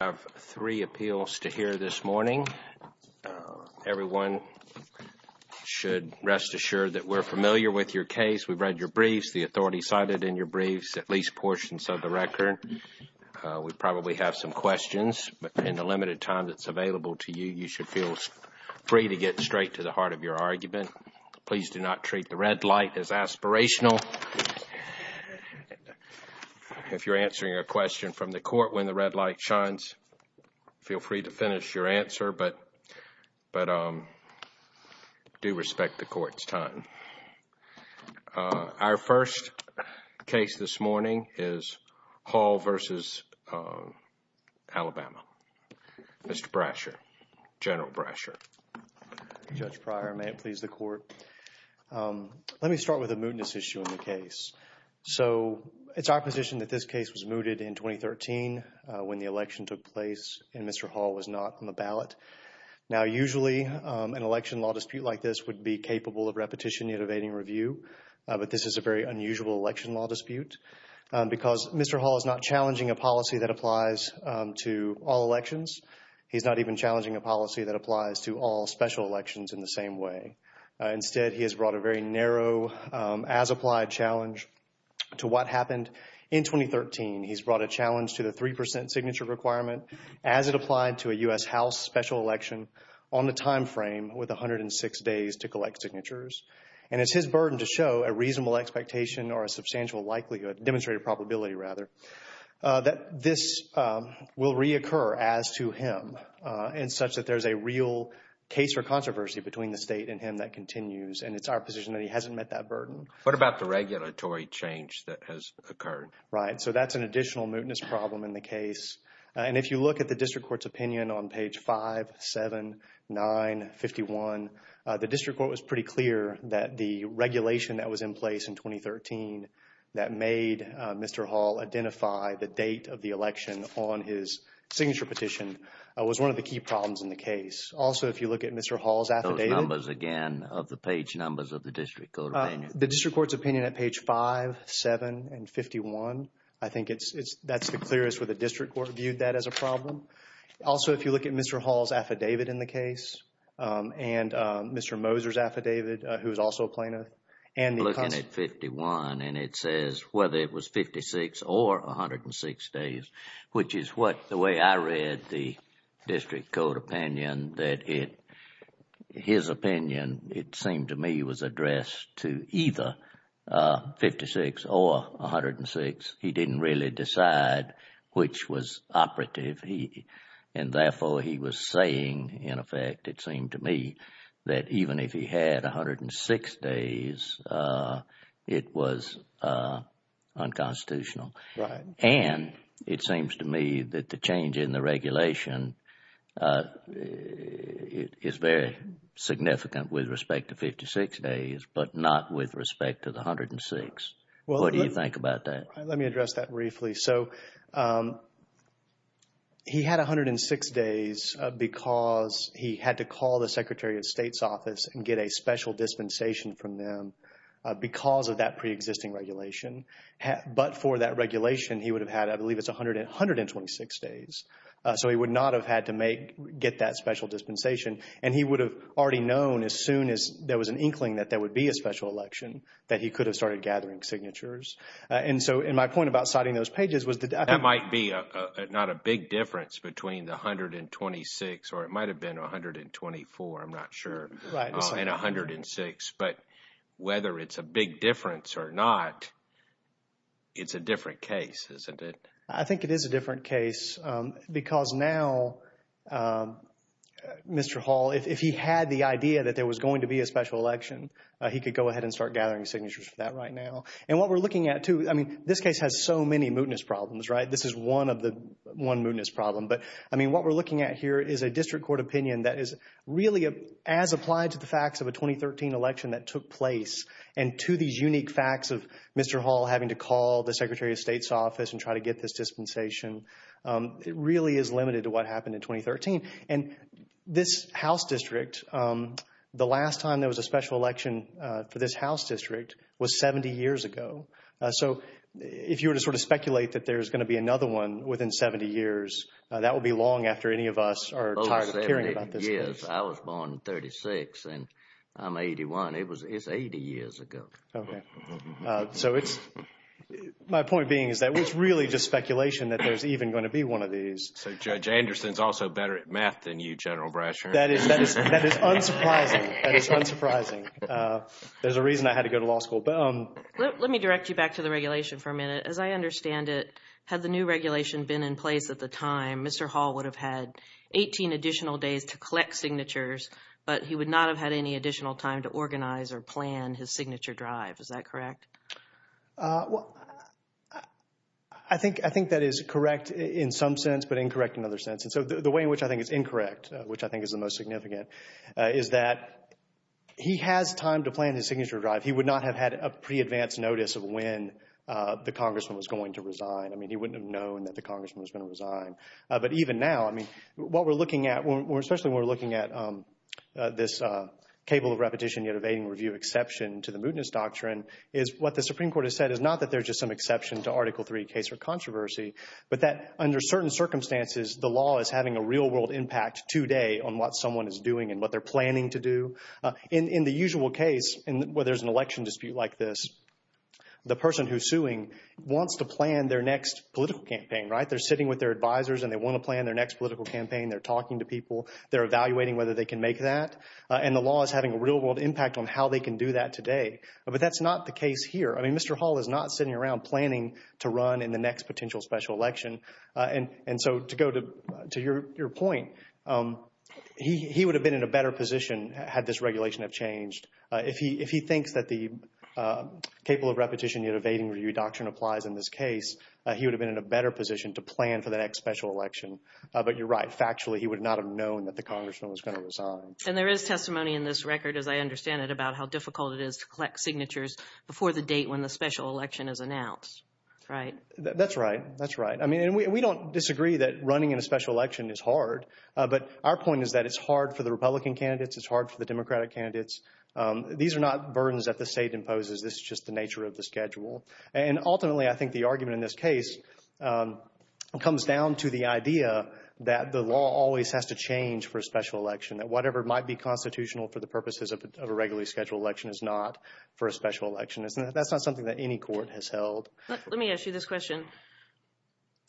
I have three appeals to hear this morning. Everyone should rest assured that we're familiar with your case, we've read your briefs, the authority cited in your briefs, at least portions of the record. We probably have some questions, but in the limited time that's available to you, you should feel free to get straight to the heart of your argument. Again, please do not treat the red light as aspirational. If you're answering a question from the court when the red light shines, feel free to finish your answer, but do respect the court's time. Our first case this morning is Hall v. Alabama. Mr. Brasher, General Brasher. Judge Pryor, may it please the court. Let me start with a mootness issue in the case. So it's our position that this case was mooted in 2013 when the election took place and Mr. Hall was not on the ballot. Now, usually an election law dispute like this would be capable of repetition and evading review, but this is a very unusual election law dispute because Mr. Hall is not challenging a policy that applies to all elections. He's not even challenging a policy that applies to all special elections in the same way. Instead, he has brought a very narrow as-applied challenge to what happened in 2013. He's brought a challenge to the 3% signature requirement as it applied to a U.S. House special election on the timeframe with 106 days to collect signatures. And it's his burden to show a reasonable expectation or a substantial likelihood, demonstrated probability rather, that this will reoccur as to him in such that there's a real case for controversy between the state and him that continues. And it's our position that he hasn't met that burden. What about the regulatory change that has occurred? Right. So that's an additional mootness problem in the case. And if you look at the district court's opinion on page 5, 7, 9, 51, the district court was pretty clear that the regulation that was in place in 2013 that made Mr. Hall identify the date of the election on his signature petition was one of the key problems in the case. Also, if you look at Mr. Hall's affidavit. Those numbers again of the page numbers of the district court opinion. The district court's opinion at page 5, 7, and 51, I think that's the clearest where the district court viewed that as a problem. Also, if you look at Mr. Hall's affidavit in the case and Mr. Moser's affidavit, who is also a plaintiff. I'm looking at 51 and it says whether it was 56 or 106 days, which is what the way I read the district court opinion that his opinion, it seemed to me, was addressed to either 56 or 106. He didn't really decide which was operative. And therefore, he was saying, in effect, it seemed to me, that even if he had 106 days, it was unconstitutional. And it seems to me that the change in the regulation is very significant with respect to 56 days, but not with respect to the 106. What do you think about that? Let me address that briefly. So he had 106 days because he had to call the Secretary of State's office and get a special dispensation from them because of that preexisting regulation. But for that regulation, he would have had, I believe it's 126 days. So he would not have had to get that special dispensation. And he would have already known as soon as there was an inkling that there would be a special election, that he could have started gathering signatures. And so my point about citing those pages was that— That might be not a big difference between the 126 or it might have been 124. I'm not sure. Right. And 106. But whether it's a big difference or not, it's a different case, isn't it? I think it is a different case because now, Mr. Hall, if he had the idea that there was going to be a special election, he could go ahead and start gathering signatures for that right now. And what we're looking at, too—I mean, this case has so many mootness problems, right? This is one of the—one mootness problem. But, I mean, what we're looking at here is a district court opinion that is really as applied to the facts of a 2013 election that took place and to these unique facts of Mr. Hall having to call the Secretary of State's office and try to get this dispensation. It really is limited to what happened in 2013. And this House district, the last time there was a special election for this House district was 70 years ago. So if you were to sort of speculate that there's going to be another one within 70 years, that would be long after any of us are tired of hearing about this case. Yes. I was born in 36 and I'm 81. It's 80 years ago. Okay. So it's—my point being is that it's really just speculation that there's even going to be one of these. So Judge Anderson is also better at math than you, General Brasher. That is unsurprising. That is unsurprising. There's a reason I had to go to law school. Let me direct you back to the regulation for a minute. As I understand it, had the new regulation been in place at the time, Mr. Hall would have had 18 additional days to collect signatures, but he would not have had any additional time to organize or plan his signature drive. Is that correct? Well, I think that is correct in some sense but incorrect in other sense. And so the way in which I think it's incorrect, which I think is the most significant, is that he has time to plan his signature drive. He would not have had a pre-advanced notice of when the congressman was going to resign. I mean, he wouldn't have known that the congressman was going to resign. But even now, I mean, what we're looking at, especially when we're looking at this cable of repetition yet evading review exception to the mootness doctrine, is what the Supreme Court has said is not that there's just some exception to Article III case for controversy, but that under certain circumstances, the law is having a real world impact today on what someone is doing and what they're planning to do. In the usual case where there's an election dispute like this, the person who's suing wants to plan their next political campaign, right? They're sitting with their advisors and they want to plan their next political campaign. They're talking to people. They're evaluating whether they can make that. And the law is having a real world impact on how they can do that today. But that's not the case here. I mean, Mr. Hall is not sitting around planning to run in the next potential special election. And so to go to your point, he would have been in a better position had this regulation have changed. If he thinks that the cable of repetition yet evading review doctrine applies in this case, he would have been in a better position to plan for the next special election. But you're right. Factually, he would not have known that the congressman was going to resign. And there is testimony in this record, as I understand it, about how difficult it is to collect signatures before the date when the special election is announced, right? That's right. That's right. I mean, we don't disagree that running in a special election is hard. But our point is that it's hard for the Republican candidates. It's hard for the Democratic candidates. These are not burdens that the state imposes. This is just the nature of the schedule. And ultimately, I think the argument in this case comes down to the idea that the law always has to change for a special election, that whatever might be constitutional for the purposes of a regularly scheduled election is not for a special election. That's not something that any court has held. Let me ask you this question.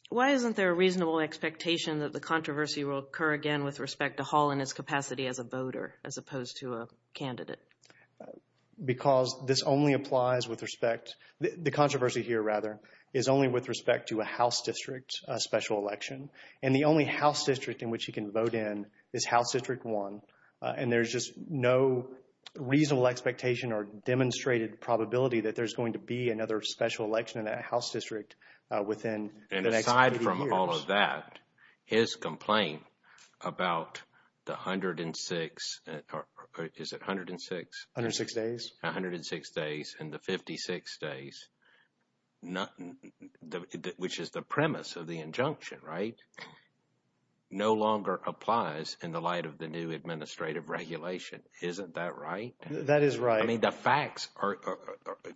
Why isn't there a reasonable expectation that the controversy will occur again with respect to Hall in his capacity as a voter as opposed to a candidate? Because this only applies with respect – the controversy here, rather, is only with respect to a House district special election. And the only House district in which he can vote in is House District 1. And there's just no reasonable expectation or demonstrated probability that there's going to be another special election in that House district within the next few years. And aside from all of that, his complaint about the 106 – is it 106? 106 days. 106 days and the 56 days, which is the premise of the injunction, right, no longer applies in the light of the new administrative regulation. Isn't that right? That is right. I mean the facts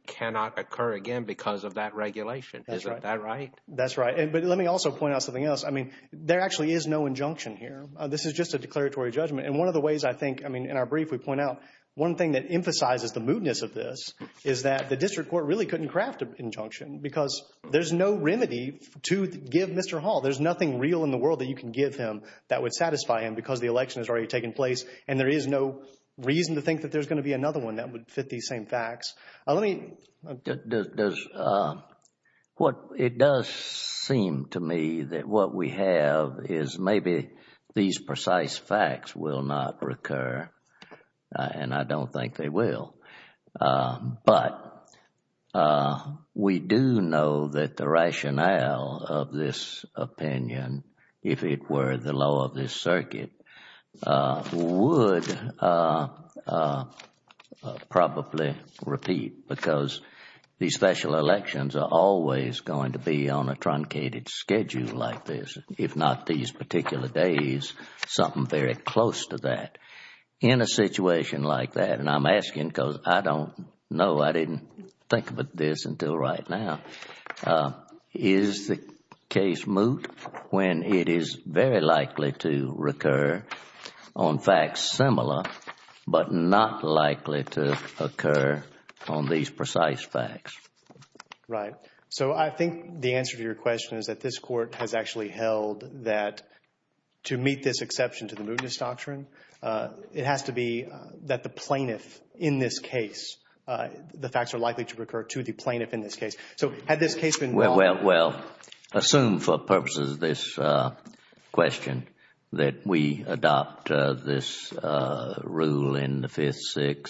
cannot occur again because of that regulation. Isn't that right? That's right. But let me also point out something else. I mean there actually is no injunction here. This is just a declaratory judgment. And one of the ways I think – I mean in our brief we point out one thing that emphasizes the moodness of this is that the district court really couldn't craft an injunction because there's no remedy to give Mr. Hall. There's nothing real in the world that you can give him that would satisfy him because the election has already taken place and there is no reason to think that there's going to be another one that would fit these same facts. It does seem to me that what we have is maybe these precise facts will not recur, and I don't think they will. But we do know that the rationale of this opinion, if it were the law of this circuit, would probably repeat because these special elections are always going to be on a truncated schedule like this. If not these particular days, something very close to that. In a situation like that, and I'm asking because I don't know, I didn't think of this until right now, is the case moot when it is very likely to recur on facts similar but not likely to occur on these precise facts? Right. So I think the answer to your question is that this court has actually held that to meet this exception to the moodness doctrine it has to be that the plaintiff in this case, the facts are likely to recur to the plaintiff in this case. So had this case been moot? Well, assume for purposes of this question that we adopt this rule in the 5th, 6th,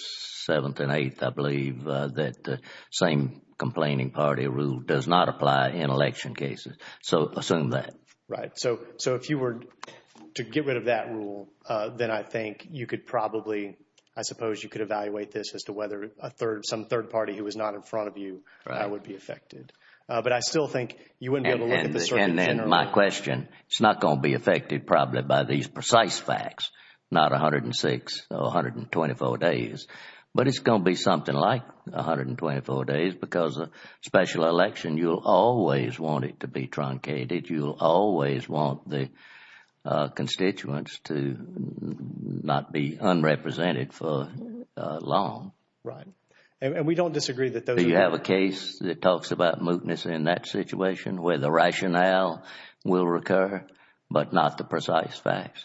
7th, and 8th, I believe, that the same complaining party rule does not apply in election cases. So assume that. Right. So if you were to get rid of that rule, then I think you could probably, I suppose you could evaluate this as to whether some third party who was not in front of you would be affected. But I still think you wouldn't be able to look at the circuit in general. And then my question, it's not going to be affected probably by these precise facts, not 106 or 124 days, but it's going to be something like 124 days because a special election, you'll always want it to be truncated. You'll always want the constituents to not be unrepresented for long. Right. And we don't disagree that those are… Do you have a case that talks about moodness in that situation where the rationale will recur but not the precise facts?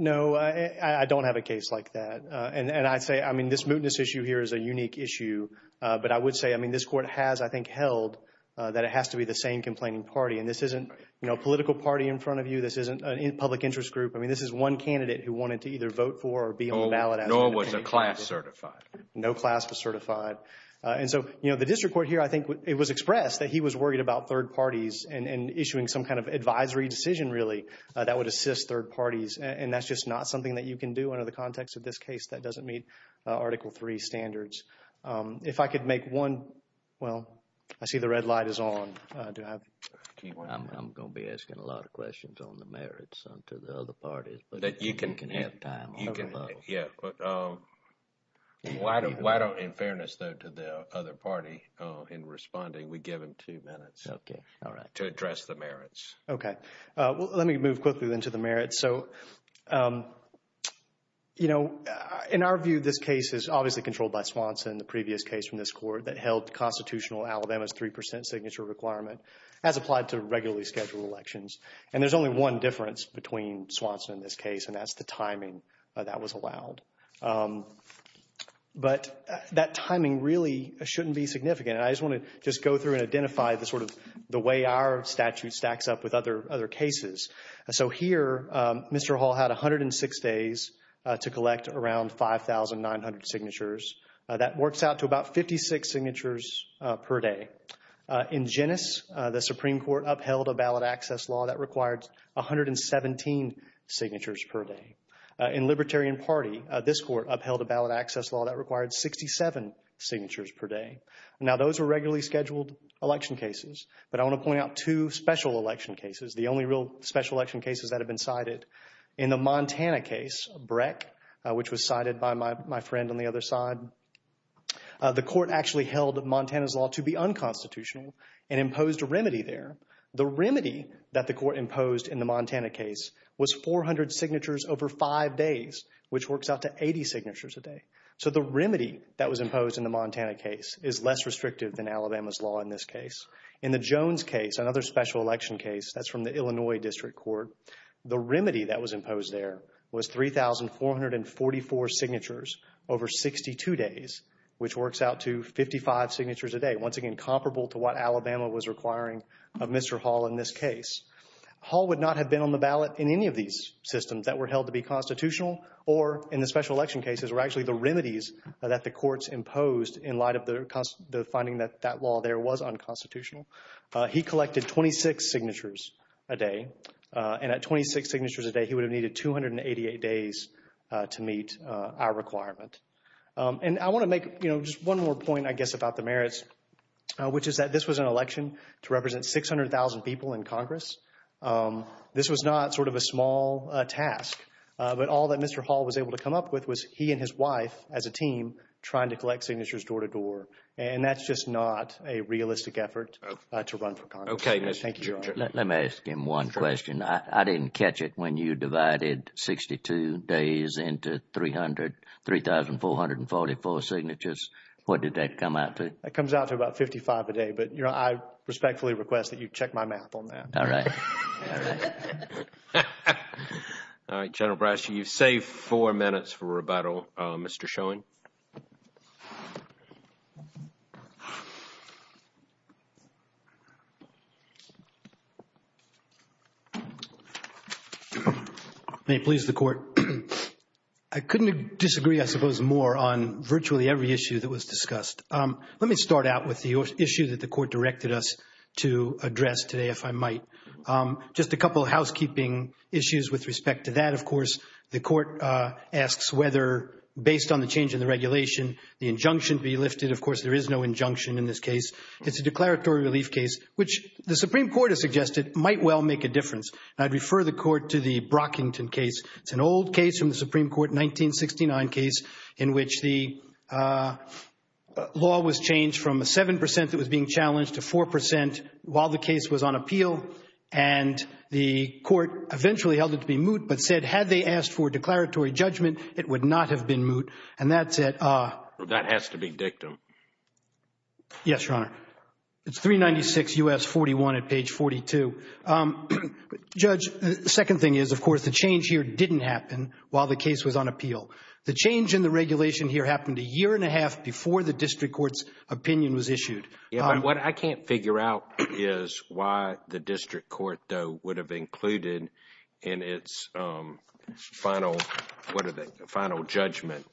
No, I don't have a case like that. And I say, I mean, this moodness issue here is a unique issue. But I would say, I mean, this Court has, I think, held that it has to be the same complaining party. And this isn't a political party in front of you. This isn't a public interest group. I mean, this is one candidate who wanted to either vote for or be on the ballot. Nor was a class certified. No class was certified. And so, you know, the district court here, I think it was expressed that he was worried about third parties and issuing some kind of advisory decision, really, that would assist third parties. And that's just not something that you can do under the context of this case. That doesn't meet Article III standards. If I could make one, well, I see the red light is on. I'm going to be asking a lot of questions on the merits to the other parties. But you can have time. Yeah. Why don't, in fairness, though, to the other party, in responding, we give them two minutes. Okay. All right. To address the merits. Okay. Well, let me move quickly then to the merits. So, you know, in our view, this case is obviously controlled by Swanson, the previous case from this court that held constitutional Alabama's 3% signature requirement as applied to regularly scheduled elections. And there's only one difference between Swanson and this case, and that's the timing that was allowed. But that timing really shouldn't be significant. And I just want to just go through and identify the sort of the way our statute stacks up with other cases. So here, Mr. Hall had 106 days to collect around 5,900 signatures. That works out to about 56 signatures per day. In Genes, the Supreme Court upheld a ballot access law that required 117 signatures per day. In Libertarian Party, this court upheld a ballot access law that required 67 signatures per day. Now, those were regularly scheduled election cases. But I want to point out two special election cases, the only real special election cases that have been cited. In the Montana case, Breck, which was cited by my friend on the other side, the court actually held Montana's law to be unconstitutional and imposed a remedy there. The remedy that the court imposed in the Montana case was 400 signatures over five days, which works out to 80 signatures a day. So the remedy that was imposed in the Montana case is less restrictive than Alabama's law in this case. In the Jones case, another special election case, that's from the Illinois District Court, the remedy that was imposed there was 3,444 signatures over 62 days, which works out to 55 signatures a day. Once again, comparable to what Alabama was requiring of Mr. Hall in this case. Hall would not have been on the ballot in any of these systems that were held to be constitutional or in the special election cases were actually the remedies that the courts imposed in light of the finding that that law there was unconstitutional. He collected 26 signatures a day. And at 26 signatures a day, he would have needed 288 days to meet our requirement. And I want to make just one more point, I guess, about the merits, which is that this was an election to represent 600,000 people in Congress. This was not sort of a small task. But all that Mr. Hall was able to come up with was he and his wife, as a team, trying to collect signatures door to door. And that's just not a realistic effort to run for Congress. Thank you, Your Honor. Let me ask him one question. I didn't catch it when you divided 62 days into 3,444 signatures. What did that come out to? That comes out to about 55 a day. But I respectfully request that you check my math on that. All right. All right. All right. General Brasher, you've saved four minutes for rebuttal. Mr. Schoen. May it please the Court. I couldn't disagree, I suppose, more on virtually every issue that was discussed. Let me start out with the issue that the Court directed us to address today, if I might. Just a couple of housekeeping issues with respect to that. Of course, the Court asks whether, based on the change in the regulation, the injunction be lifted. Of course, there is no injunction in this case. It's a declaratory relief case, which the Supreme Court has suggested might well make a difference. I'd refer the Court to the Brockington case. It's an old case from the Supreme Court, 1969 case, in which the law was changed from a 7 percent that was being challenged to 4 percent while the case was on appeal. And the Court eventually held it to be moot, but said had they asked for a declaratory judgment, it would not have been moot. And that said – That has to be dictum. Yes, Your Honor. It's 396 U.S. 41 at page 42. Judge, the second thing is, of course, the change here didn't happen while the case was on appeal. The change in the regulation here happened a year and a half before the district court's opinion was issued. What I can't figure out is why the district court, though, would have included in its final judgment,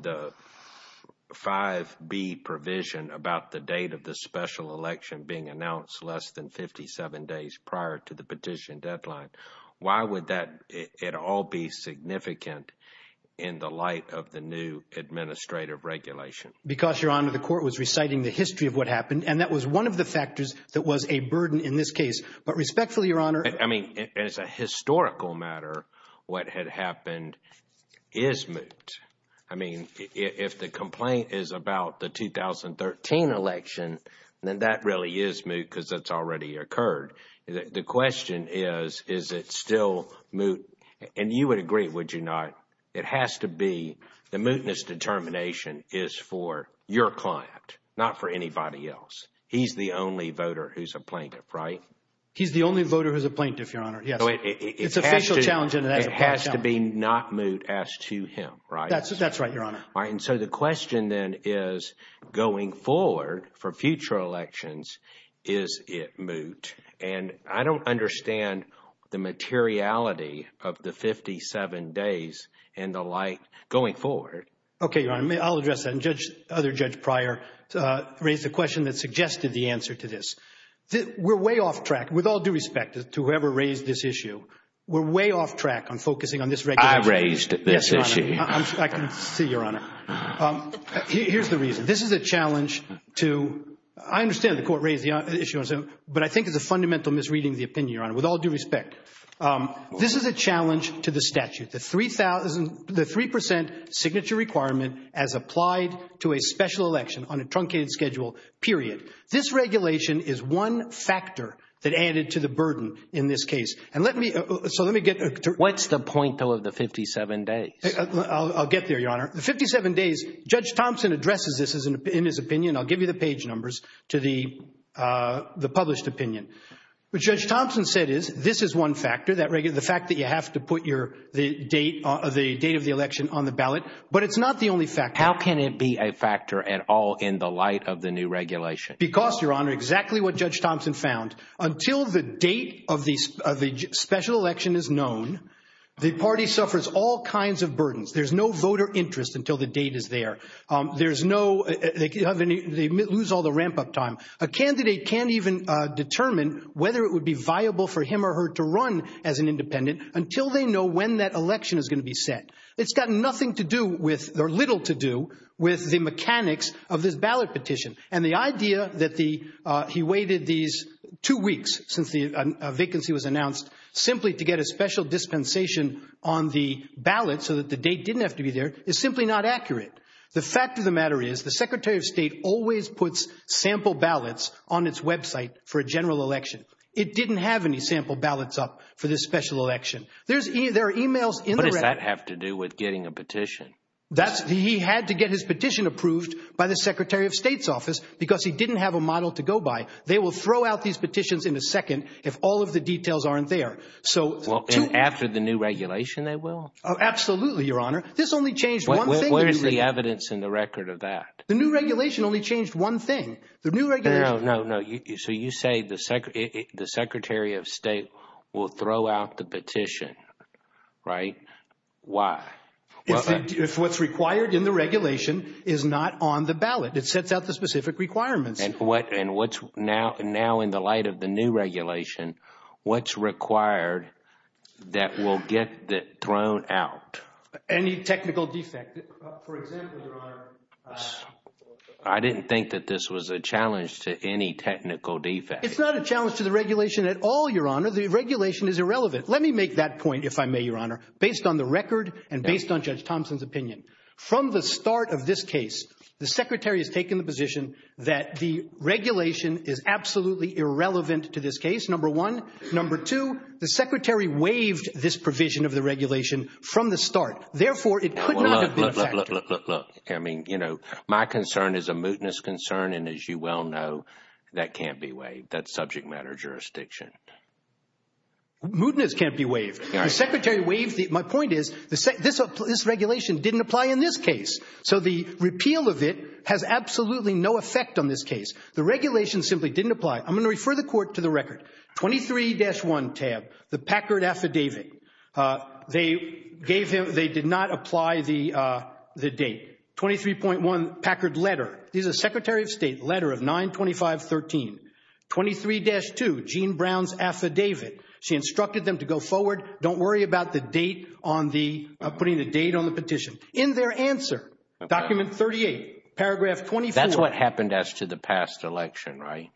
the 5B provision about the date of the special election being announced less than 57 days prior to the petition deadline. Why would that at all be significant in the light of the new administrative regulation? Because, Your Honor, the Court was reciting the history of what happened, and that was one of the factors that was a burden in this case. But respectfully, Your Honor – I mean, as a historical matter, what had happened is moot. I mean, if the complaint is about the 2013 election, then that really is moot because it's already occurred. The question is, is it still moot? And you would agree, would you not, it has to be the mootness determination is for your client, not for anybody else. He's the only voter who's a plaintiff, right? He's the only voter who's a plaintiff, Your Honor, yes. So it has to be not moot as to him, right? That's right, Your Honor. All right, and so the question then is, going forward for future elections, is it moot? And I don't understand the materiality of the 57 days and the like going forward. Okay, Your Honor, I'll address that. And Judge – other Judge Pryor raised the question that suggested the answer to this. We're way off track, with all due respect to whoever raised this issue. We're way off track on focusing on this regulation. I raised this issue. I can see, Your Honor. Here's the reason. This is a challenge to – I understand the court raised the issue, but I think it's a fundamental misreading of the opinion, Your Honor, with all due respect. This is a challenge to the statute, the 3 percent signature requirement as applied to a special election on a truncated schedule, period. This regulation is one factor that added to the burden in this case. And let me – so let me get – What's the point, though, of the 57 days? I'll get there, Your Honor. The 57 days – Judge Thompson addresses this in his opinion. I'll give you the page numbers to the published opinion. What Judge Thompson said is this is one factor, the fact that you have to put your – the date of the election on the ballot. But it's not the only factor. How can it be a factor at all in the light of the new regulation? Because, Your Honor, exactly what Judge Thompson found, until the date of the special election is known, the party suffers all kinds of burdens. There's no voter interest until the date is there. There's no – they lose all the ramp-up time. A candidate can't even determine whether it would be viable for him or her to run as an independent until they know when that election is going to be set. It's got nothing to do with – or little to do with the mechanics of this ballot petition. And the idea that the – he waited these two weeks since the vacancy was announced simply to get a special dispensation on the ballot so that the date didn't have to be there is simply not accurate. The fact of the matter is the Secretary of State always puts sample ballots on its website for a general election. It didn't have any sample ballots up for this special election. There are emails in the – How does that have to do with getting a petition? That's – he had to get his petition approved by the Secretary of State's office because he didn't have a model to go by. They will throw out these petitions in a second if all of the details aren't there. So – And after the new regulation they will? Absolutely, Your Honor. This only changed one thing. Where's the evidence in the record of that? The new regulation only changed one thing. The new regulation – No, no, no. So you say the Secretary of State will throw out the petition, right? Why? If what's required in the regulation is not on the ballot, it sets out the specific requirements. And what's – now in the light of the new regulation, what's required that will get thrown out? Any technical defect. For example, Your Honor – I didn't think that this was a challenge to any technical defect. It's not a challenge to the regulation at all, Your Honor. The regulation is irrelevant. Let me make that point, if I may, Your Honor, based on the record and based on Judge Thompson's opinion. From the start of this case, the Secretary has taken the position that the regulation is absolutely irrelevant to this case, number one. Number two, the Secretary waived this provision of the regulation from the start. Therefore, it could not have been effective. Look, look, look, look. I mean, you know, my concern is a mootness concern, and as you well know, that can't be waived. That's subject matter jurisdiction. Mootness can't be waived. The Secretary waived – my point is this regulation didn't apply in this case. So the repeal of it has absolutely no effect on this case. The regulation simply didn't apply. I'm going to refer the Court to the record. 23-1 tab, the Packard Affidavit. They gave him – they did not apply the date. 23.1 Packard Letter. This is a Secretary of State letter of 9-25-13. 23-2, Jean Brown's Affidavit. She instructed them to go forward. Don't worry about the date on the – putting the date on the petition. In their answer, document 38, paragraph 24. That's what happened as to the past election, right?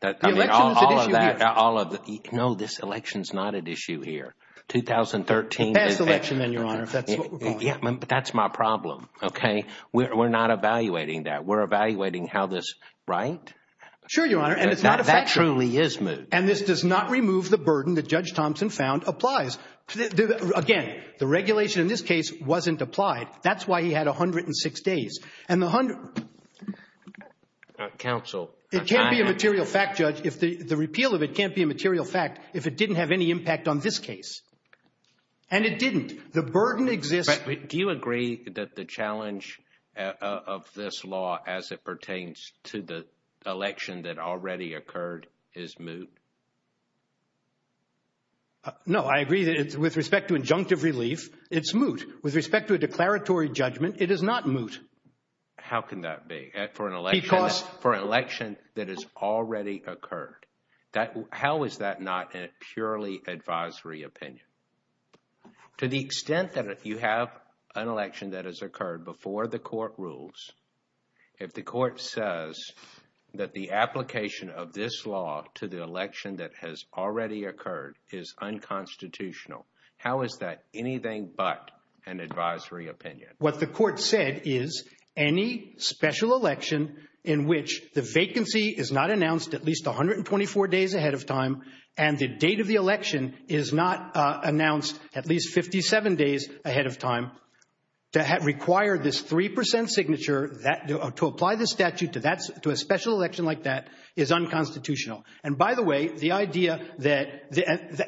The election is at issue here. All of the – no, this election is not at issue here. 2013. Past election then, Your Honor, if that's what we're going with. Yeah, but that's my problem, okay? We're not evaluating that. We're evaluating how this – right? Sure, Your Honor, and it's not effective. That truly is moot. And this does not remove the burden that Judge Thompson found applies. Again, the regulation in this case wasn't applied. That's why he had 106 days. And the – Counsel. It can't be a material fact, Judge. The repeal of it can't be a material fact if it didn't have any impact on this case. And it didn't. The burden exists. But do you agree that the challenge of this law as it pertains to the election that already occurred is moot? No, I agree that with respect to injunctive relief, it's moot. With respect to a declaratory judgment, it is not moot. How can that be? For an election that has already occurred. How is that not a purely advisory opinion? To the extent that you have an election that has occurred before the court rules, if the court says that the application of this law to the election that has already occurred is unconstitutional, how is that anything but an advisory opinion? What the court said is any special election in which the vacancy is not announced at least 124 days ahead of time and the date of the election is not announced at least 57 days ahead of time, to require this 3% signature to apply the statute to a special election like that is unconstitutional. And by the way, the idea that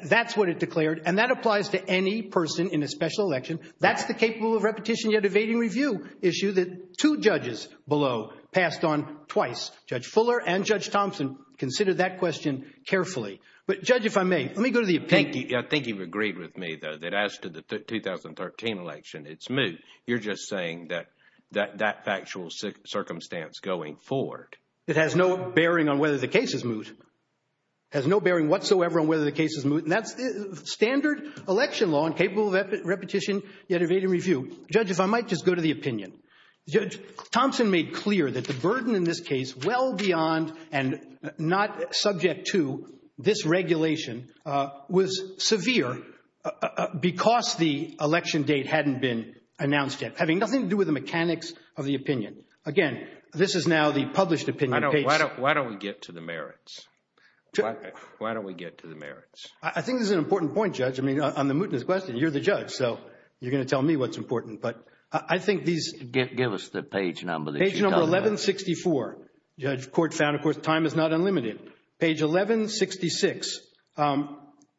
that's what it declared, and that applies to any person in a special election, that's the capable of repetition yet evading review issue that two judges below passed on twice. Judge Fuller and Judge Thompson considered that question carefully. But Judge, if I may, let me go to the opinion. I think you've agreed with me that as to the 2013 election, it's moot. You're just saying that that factual circumstance going forward. It has no bearing on whether the case is moot. It has no bearing whatsoever on whether the case is moot. That's the standard election law and capable of repetition yet evading review. Judge, if I might just go to the opinion. Judge Thompson made clear that the burden in this case, well beyond and not subject to this regulation, was severe because the election date hadn't been announced yet, having nothing to do with the mechanics of the opinion. Again, this is now the published opinion. Why don't we get to the merits? Why don't we get to the merits? I think this is an important point, Judge. I mean, on the mootness question, you're the judge, so you're going to tell me what's important. But I think these— Give us the page number that you're talking about. Page number 1164. Judge, court found, of course, time is not unlimited. Page 1166.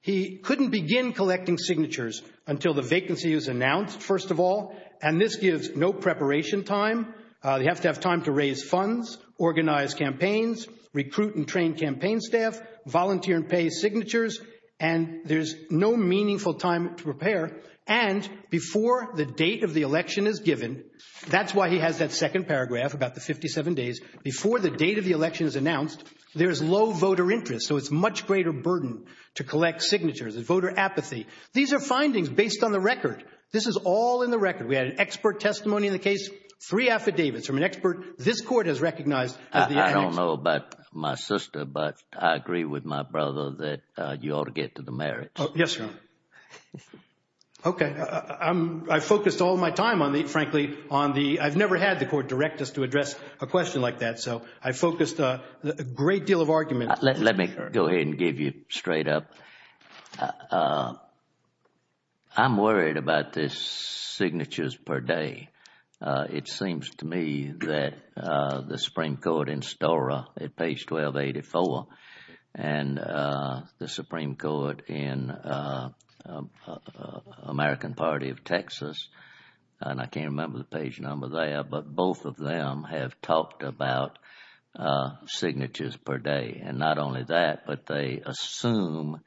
He couldn't begin collecting signatures until the vacancy was announced, first of all, and this gives no preparation time. You have to have time to raise funds, organize campaigns, recruit and train campaign staff, volunteer and pay signatures, and there's no meaningful time to prepare. And before the date of the election is given— that's why he has that second paragraph about the 57 days— before the date of the election is announced, there's low voter interest, so it's a much greater burden to collect signatures, voter apathy. These are findings based on the record. This is all in the record. We had an expert testimony in the case, three affidavits from an expert this court has recognized. I don't know about my sister, but I agree with my brother that you ought to get to the merits. Yes, Your Honor. Okay. I focused all my time, frankly, on the—I've never had the court direct us to address a question like that, so I focused a great deal of argument— Let me go ahead and give you straight up. I'm worried about the signatures per day. It seems to me that the Supreme Court in Stora at page 1284 and the Supreme Court in American Party of Texas— and I can't remember the page number there— but both of them have talked about signatures per day. And not only that, but they assume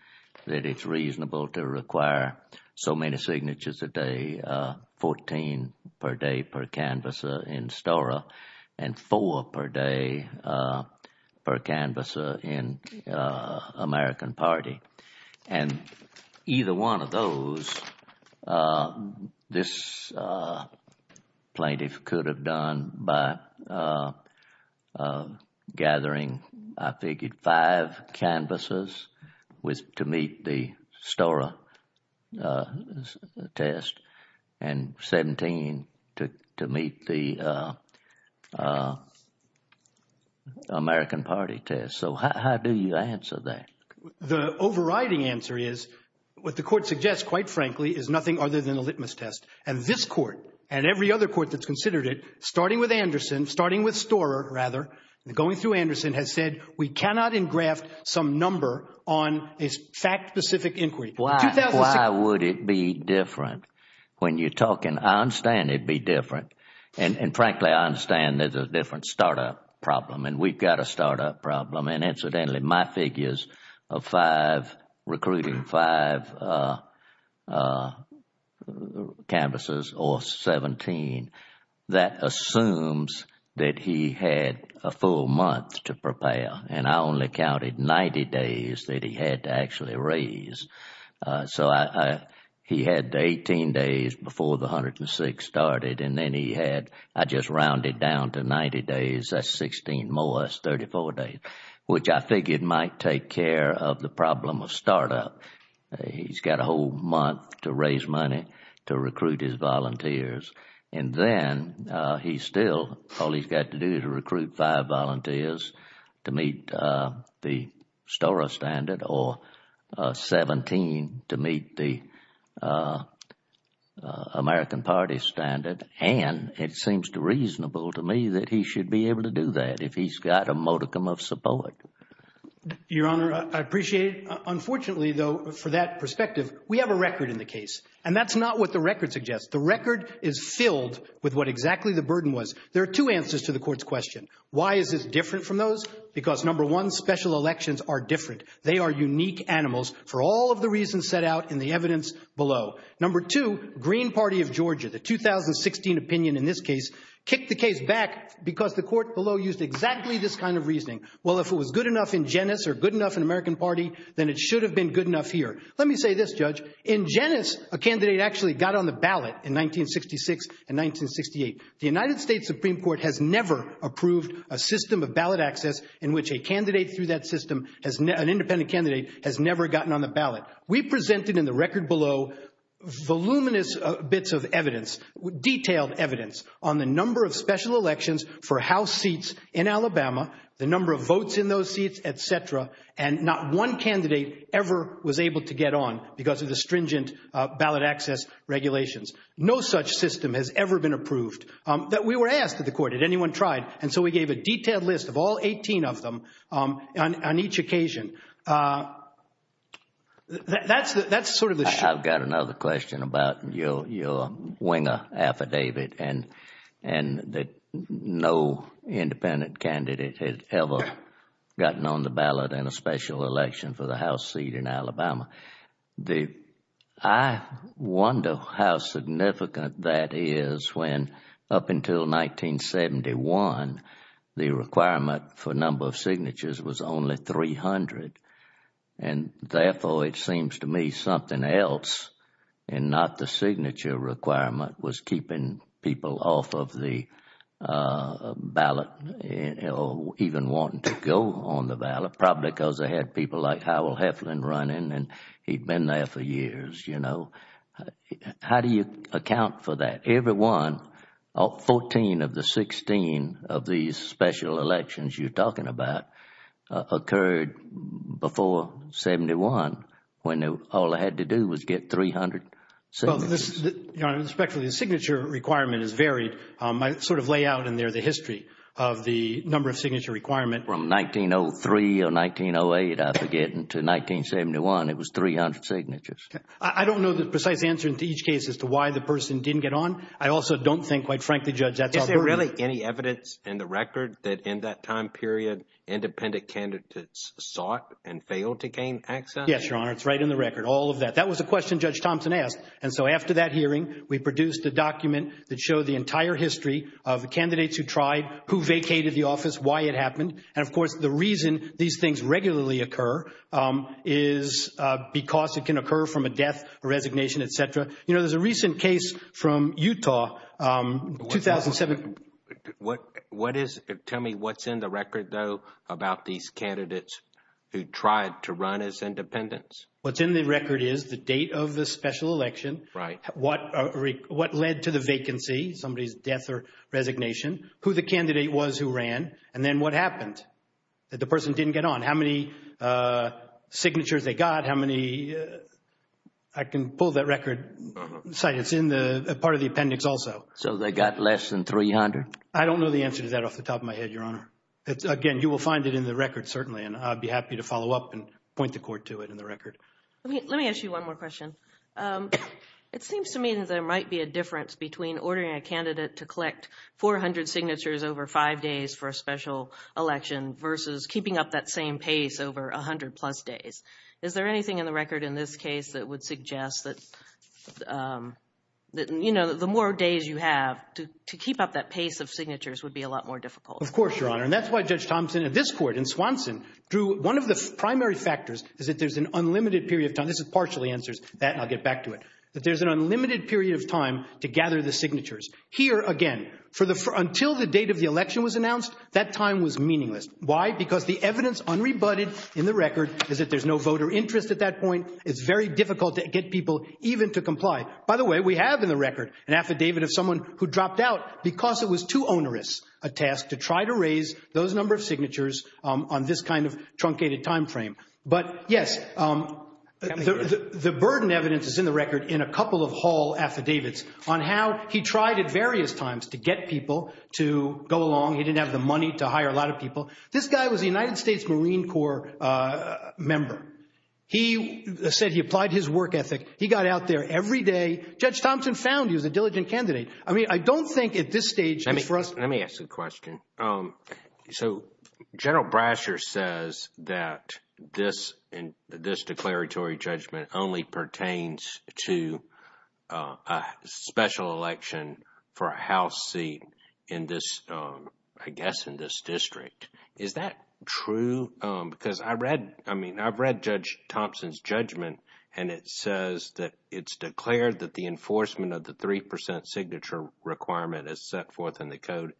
that it's reasonable to require so many signatures a day, 14 per day per canvasser in Stora and four per day per canvasser in American Party. And either one of those, this plaintiff could have done by gathering, I figured, five canvassers to meet the Stora test and 17 to meet the American Party test. So how do you answer that? The overriding answer is what the court suggests, quite frankly, is nothing other than a litmus test. And this court and every other court that's considered it, starting with Anderson, starting with Stora, rather, and going through Anderson, has said we cannot engraft some number on a fact-specific inquiry. Why would it be different? When you're talking—I understand it'd be different. And frankly, I understand there's a different startup problem, and we've got a startup problem. And incidentally, my figures of five, recruiting five canvassers or 17, that assumes that he had a full month to prepare. And I only counted 90 days that he had to actually raise. So he had 18 days before the 106 started, and then he had—I just rounded down to 90 days, that's 16 more, that's 34 days, which I figured might take care of the problem of startup. He's got a whole month to raise money to recruit his volunteers. And then he still—all he's got to do is recruit five volunteers to meet the Stora standard or 17 to meet the American Party standard. And it seems reasonable to me that he should be able to do that if he's got a modicum of support. Your Honor, I appreciate—unfortunately, though, for that perspective, we have a record in the case. And that's not what the record suggests. The record is filled with what exactly the burden was. There are two answers to the court's question. Why is this different from those? Because, number one, special elections are different. They are unique animals for all of the reasons set out in the evidence below. Number two, Green Party of Georgia, the 2016 opinion in this case, kicked the case back because the court below used exactly this kind of reasoning. Well, if it was good enough in Genes or good enough in American Party, then it should have been good enough here. Let me say this, Judge. In Genes, a candidate actually got on the ballot in 1966 and 1968. The United States Supreme Court has never approved a system of ballot access in which a candidate through that system, an independent candidate, has never gotten on the ballot. We presented in the record below voluminous bits of evidence, detailed evidence, on the number of special elections for House seats in Alabama, the number of votes in those seats, et cetera, and not one candidate ever was able to get on because of the stringent ballot access regulations. No such system has ever been approved. We were asked at the court, had anyone tried? And so we gave a detailed list of all 18 of them on each occasion. That's sort of the— I've got another question about your winger affidavit and that no independent candidate has ever gotten on the ballot in a special election for the House seat in Alabama. I wonder how significant that is when up until 1971, the requirement for number of signatures was only 300, and therefore it seems to me something else and not the signature requirement was keeping people off of the ballot or even wanting to go on the ballot, probably because they had people like Howell Heflin running and he'd been there for years, you know. How do you account for that? Every one, 14 of the 16 of these special elections you're talking about, occurred before 1971 when all they had to do was get 300 signatures. Well, respectfully, the signature requirement is varied. I sort of lay out in there the history of the number of signature requirement. From 1903 or 1908, I forget, until 1971, it was 300 signatures. I don't know the precise answer to each case as to why the person didn't get on. I also don't think, quite frankly, Judge, that's our burden. Is there really any evidence in the record that in that time period, independent candidates sought and failed to gain access? Yes, Your Honor, it's right in the record, all of that. That was a question Judge Thompson asked. And so after that hearing, we produced a document that showed the entire history of the candidates who tried, who vacated the office, why it happened. And, of course, the reason these things regularly occur is because it can occur from a death, a resignation, et cetera. You know, there's a recent case from Utah, 2007. Tell me what's in the record, though, about these candidates who tried to run as independents. What's in the record is the date of the special election. Right. What led to the vacancy, somebody's death or resignation, who the candidate was who ran, and then what happened, that the person didn't get on. How many signatures they got, how many – I can pull that record. It's in the part of the appendix also. So they got less than 300? I don't know the answer to that off the top of my head, Your Honor. Again, you will find it in the record, certainly, and I'd be happy to follow up and point the court to it in the record. Let me ask you one more question. It seems to me that there might be a difference between ordering a candidate to collect 400 signatures over five days for a special election versus keeping up that same pace over 100-plus days. Is there anything in the record in this case that would suggest that, you know, the more days you have, to keep up that pace of signatures would be a lot more difficult? Of course, Your Honor. And that's why Judge Thompson in this court, in Swanson, drew one of the primary factors is that there's an unlimited period of time. This partially answers that, and I'll get back to it. That there's an unlimited period of time to gather the signatures. Here, again, until the date of the election was announced, that time was meaningless. Why? Because the evidence unrebutted in the record is that there's no voter interest at that point. It's very difficult to get people even to comply. By the way, we have in the record an affidavit of someone who dropped out because it was too onerous a task to try to raise those number of signatures on this kind of truncated time frame. But, yes, the burden evidence is in the record in a couple of Hall affidavits on how he tried at various times to get people to go along. He didn't have the money to hire a lot of people. This guy was a United States Marine Corps member. He said he applied his work ethic. He got out there every day. Judge Thompson found he was a diligent candidate. I mean, I don't think at this stage it's for us. Let me ask you a question. So General Brasher says that this declaratory judgment only pertains to a special election for a House seat in this, I guess, in this district. Is that true? Because I read, I mean, I've read Judge Thompson's judgment, and it says that it's declared that the enforcement of the 3 percent signature requirement as set forth in the code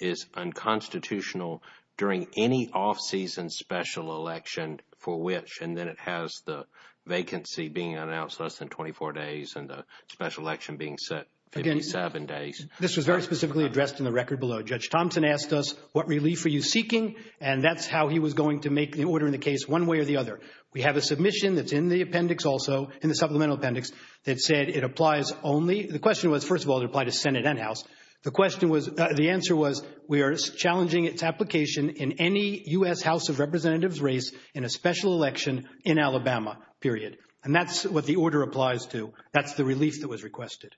is unconstitutional during any off-season special election for which. And then it has the vacancy being announced less than 24 days and the special election being set 57 days. This was very specifically addressed in the record below. Judge Thompson asked us, what relief are you seeking? And that's how he was going to make the order in the case one way or the other. We have a submission that's in the appendix also, in the supplemental appendix, that said it applies only, the question was, first of all, it applied to Senate and House. The question was, the answer was, we are challenging its application in any U.S. House of Representatives race in a special election in Alabama, period. And that's what the order applies to. That's the relief that was requested.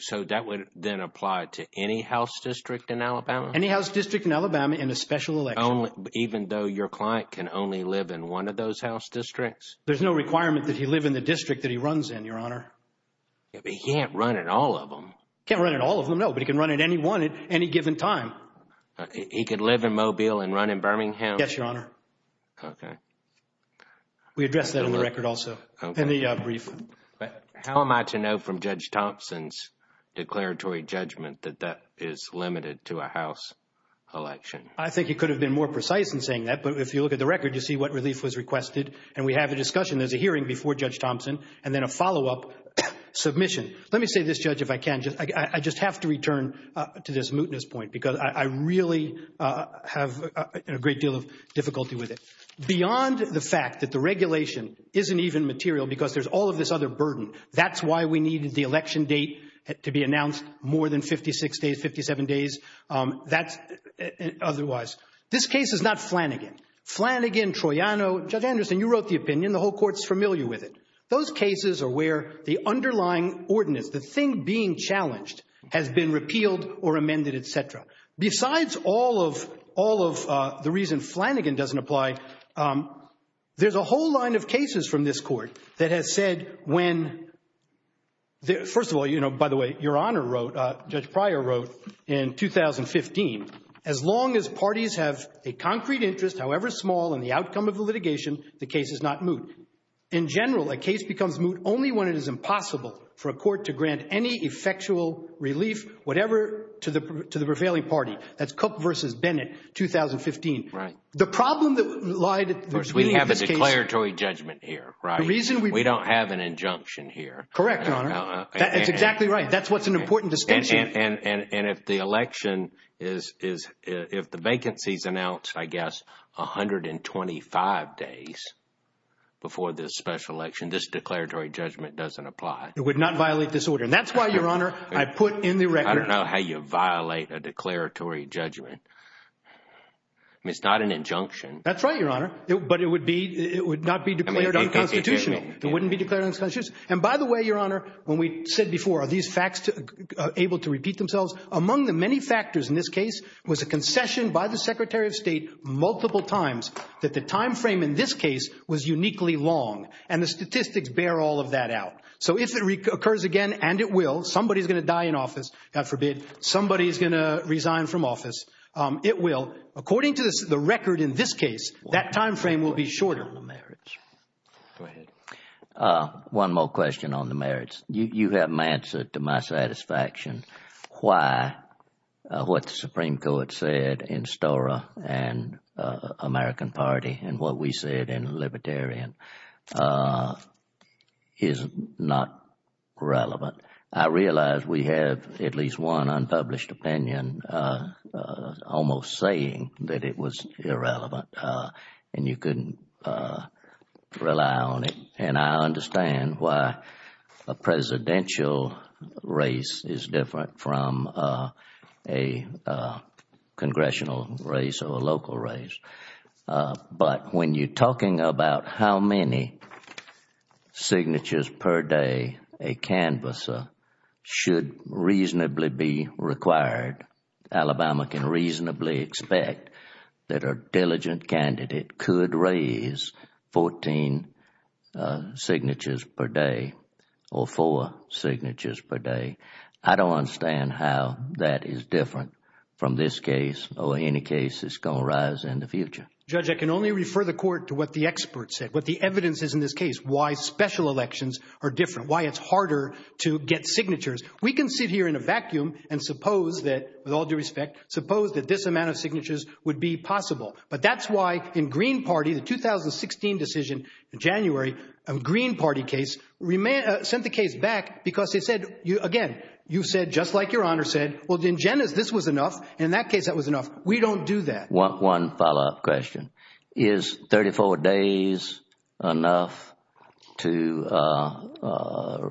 So that would then apply to any House district in Alabama? Any House district in Alabama in a special election. Even though your client can only live in one of those House districts? There's no requirement that he live in the district that he runs in, Your Honor. But he can't run in all of them. He can't run in all of them, no, but he can run in any one at any given time. He could live in Mobile and run in Birmingham? Yes, Your Honor. Okay. We addressed that in the record also, in the brief. How am I to know from Judge Thompson's declaratory judgment that that is limited to a House election? I think he could have been more precise in saying that, but if you look at the record, you see what relief was requested. And we have a discussion. There's a hearing before Judge Thompson and then a follow-up submission. Let me say this, Judge, if I can. I just have to return to this mootness point because I really have a great deal of difficulty with it. Beyond the fact that the regulation isn't even material because there's all of this other burden, that's why we needed the election date to be announced more than 56 days, 57 days. That's otherwise. This case is not Flanagan. Flanagan, Troiano, Judge Anderson, you wrote the opinion. The whole Court's familiar with it. Those cases are where the underlying ordinance, the thing being challenged, has been repealed or amended, et cetera. Besides all of the reason Flanagan doesn't apply, there's a whole line of cases from this Court that has said when, first of all, you know, by the way, Your Honor wrote, Judge Pryor wrote in 2015, as long as parties have a concrete interest, however small, in the outcome of the litigation, the case is not moot. In general, a case becomes moot only when it is impossible for a court to grant any effectual relief, whatever, to the prevailing party. That's Cook v. Bennett, 2015. Right. The problem that lied— First, we have a declaratory judgment here, right? The reason we— We don't have an injunction here. Correct, Your Honor. That's exactly right. That's what's an important distinction. And if the election is—if the vacancy is announced, I guess, 125 days before this special election, this declaratory judgment doesn't apply. It would not violate this order. And that's why, Your Honor, I put in the record— I don't know how you violate a declaratory judgment. I mean, it's not an injunction. That's right, Your Honor. But it would be—it would not be declared unconstitutional. It wouldn't be declared unconstitutional. And by the way, Your Honor, when we said before, are these facts able to repeat themselves? Among the many factors in this case was a concession by the Secretary of State multiple times that the timeframe in this case was uniquely long. And the statistics bear all of that out. So if it occurs again, and it will, somebody is going to die in office, God forbid, somebody is going to resign from office, it will. According to the record in this case, that timeframe will be shorter. Go ahead. One more question on the merits. You haven't answered to my satisfaction why what the Supreme Court said in Stora and American Party and what we said in Libertarian is not relevant. I realize we have at least one unpublished opinion almost saying that it was irrelevant. And you can rely on it. And I understand why a presidential race is different from a congressional race or a local race. But when you are talking about how many signatures per day a canvasser should reasonably be required, Alabama can reasonably expect that a diligent candidate could raise 14 signatures per day or four signatures per day. I don't understand how that is different from this case or any case that's going to arise in the future. Judge, I can only refer the court to what the experts said, what the evidence is in this case, why special elections are different, why it's harder to get signatures. We can sit here in a vacuum and suppose that, with all due respect, suppose that this amount of signatures would be possible. But that's why in Green Party, the 2016 decision in January, a Green Party case sent the case back because they said, again, you said just like Your Honor said, well, in Jenna's this was enough. In that case, that was enough. We don't do that. One follow up question. Is 34 days enough to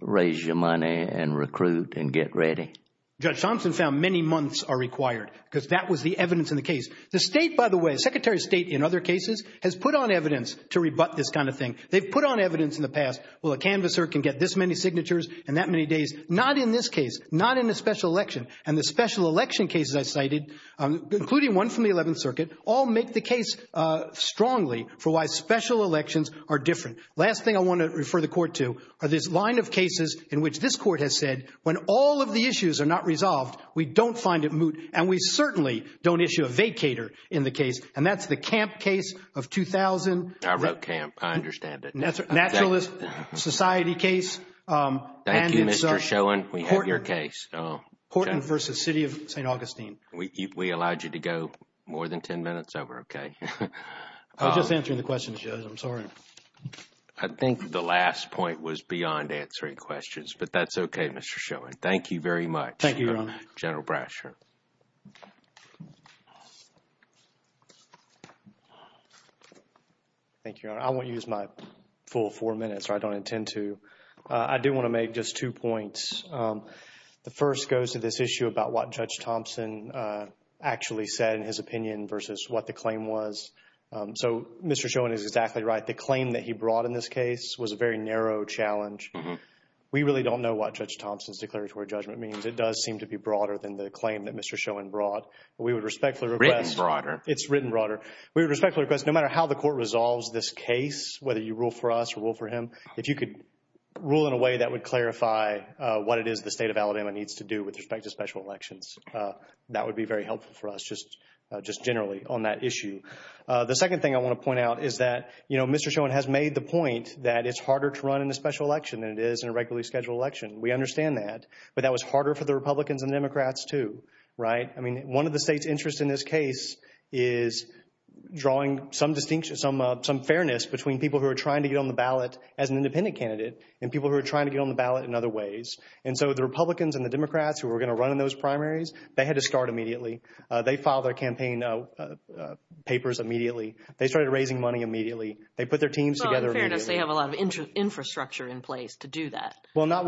raise your money and recruit and get ready? Judge Thompson found many months are required because that was the evidence in the case. The state, by the way, Secretary of State in other cases, has put on evidence to rebut this kind of thing. They've put on evidence in the past. Well, a canvasser can get this many signatures in that many days. Not in this case, not in a special election. And the special election cases I cited, including one from the 11th Circuit, all make the case strongly for why special elections are different. Last thing I want to refer the court to are this line of cases in which this court has said when all of the issues are not resolved, we don't find it moot. And we certainly don't issue a vacator in the case. And that's the Camp case of 2000. I wrote Camp. I understand it. Naturalist Society case. Thank you, Mr. Schoen. We have your case. Portland v. City of St. Augustine. We allowed you to go more than 10 minutes over. Okay. I was just answering the questions, Judge. I'm sorry. I think the last point was beyond answering questions. But that's okay, Mr. Schoen. Thank you very much. Thank you, Your Honor. General Bradshaw. Thank you, Your Honor. I won't use my full four minutes, or I don't intend to. I do want to make just two points. The first goes to this issue about what Judge Thompson actually said in his opinion versus what the claim was. So Mr. Schoen is exactly right. The claim that he brought in this case was a very narrow challenge. We really don't know what Judge Thompson's declaratory judgment means. It does seem to be broader than the claim that Mr. Schoen brought. We would respectfully request. It's written broader. It's written broader. We would respectfully request, no matter how the court resolves this case, whether you rule for us or rule for him, if you could rule in a way that would clarify what it is the State of Alabama needs to do with respect to special elections, that would be very helpful for us just generally on that issue. The second thing I want to point out is that, you know, Mr. Schoen has made the point that it's harder to run in a special election than it is in a regularly scheduled election. We understand that. But that was harder for the Republicans and Democrats too, right? I mean, one of the states' interest in this case is drawing some distinction, some fairness between people who are trying to get on the ballot as an independent candidate and people who are trying to get on the ballot in other ways. And so the Republicans and the Democrats who were going to run in those primaries, they had to start immediately. They filed their campaign papers immediately. They started raising money immediately. They put their teams together immediately. Well, in fairness, they have a lot of infrastructure in place to do that. Well, not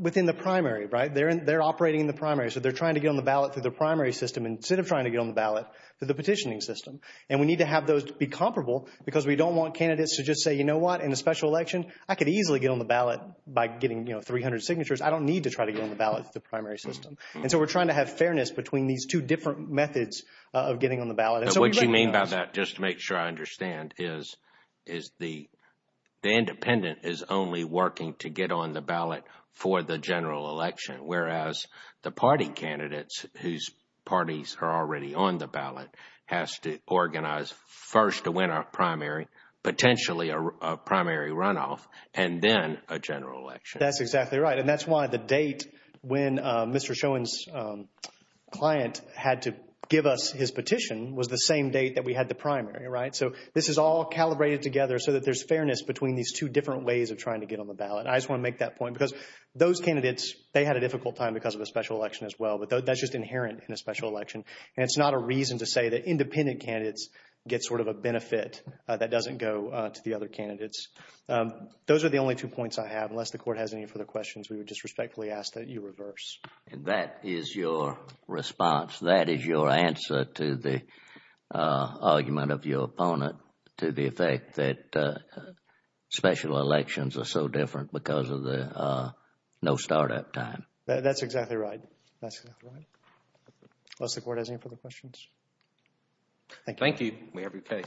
within the primary, right? They're operating in the primary. So they're trying to get on the ballot through the primary system instead of trying to get on the ballot through the petitioning system. And we need to have those to be comparable because we don't want candidates to just say, you know what, in a special election I could easily get on the ballot by getting, you know, 300 signatures. I don't need to try to get on the ballot through the primary system. And so we're trying to have fairness between these two different methods of getting on the ballot. What you mean by that, just to make sure I understand, is the independent is only working to get on the ballot for the general election, whereas the party candidates whose parties are already on the ballot has to organize first to win a primary, potentially a primary runoff, and then a general election. That's exactly right. And that's why the date when Mr. Schoen's client had to give us his petition was the same date that we had the primary, right? So this is all calibrated together so that there's fairness between these two different ways of trying to get on the ballot. I just want to make that point because those candidates, they had a difficult time because of a special election as well, but that's just inherent in a special election. And it's not a reason to say that independent candidates get sort of a benefit that doesn't go to the other candidates. Those are the only two points I have. Unless the Court has any further questions, we would just respectfully ask that you reverse. And that is your response. That is your answer to the argument of your opponent to the effect that special elections are so different because of the no startup time. That's exactly right. That's exactly right. Unless the Court has any further questions. Thank you. Thank you. We have your case. Thank you.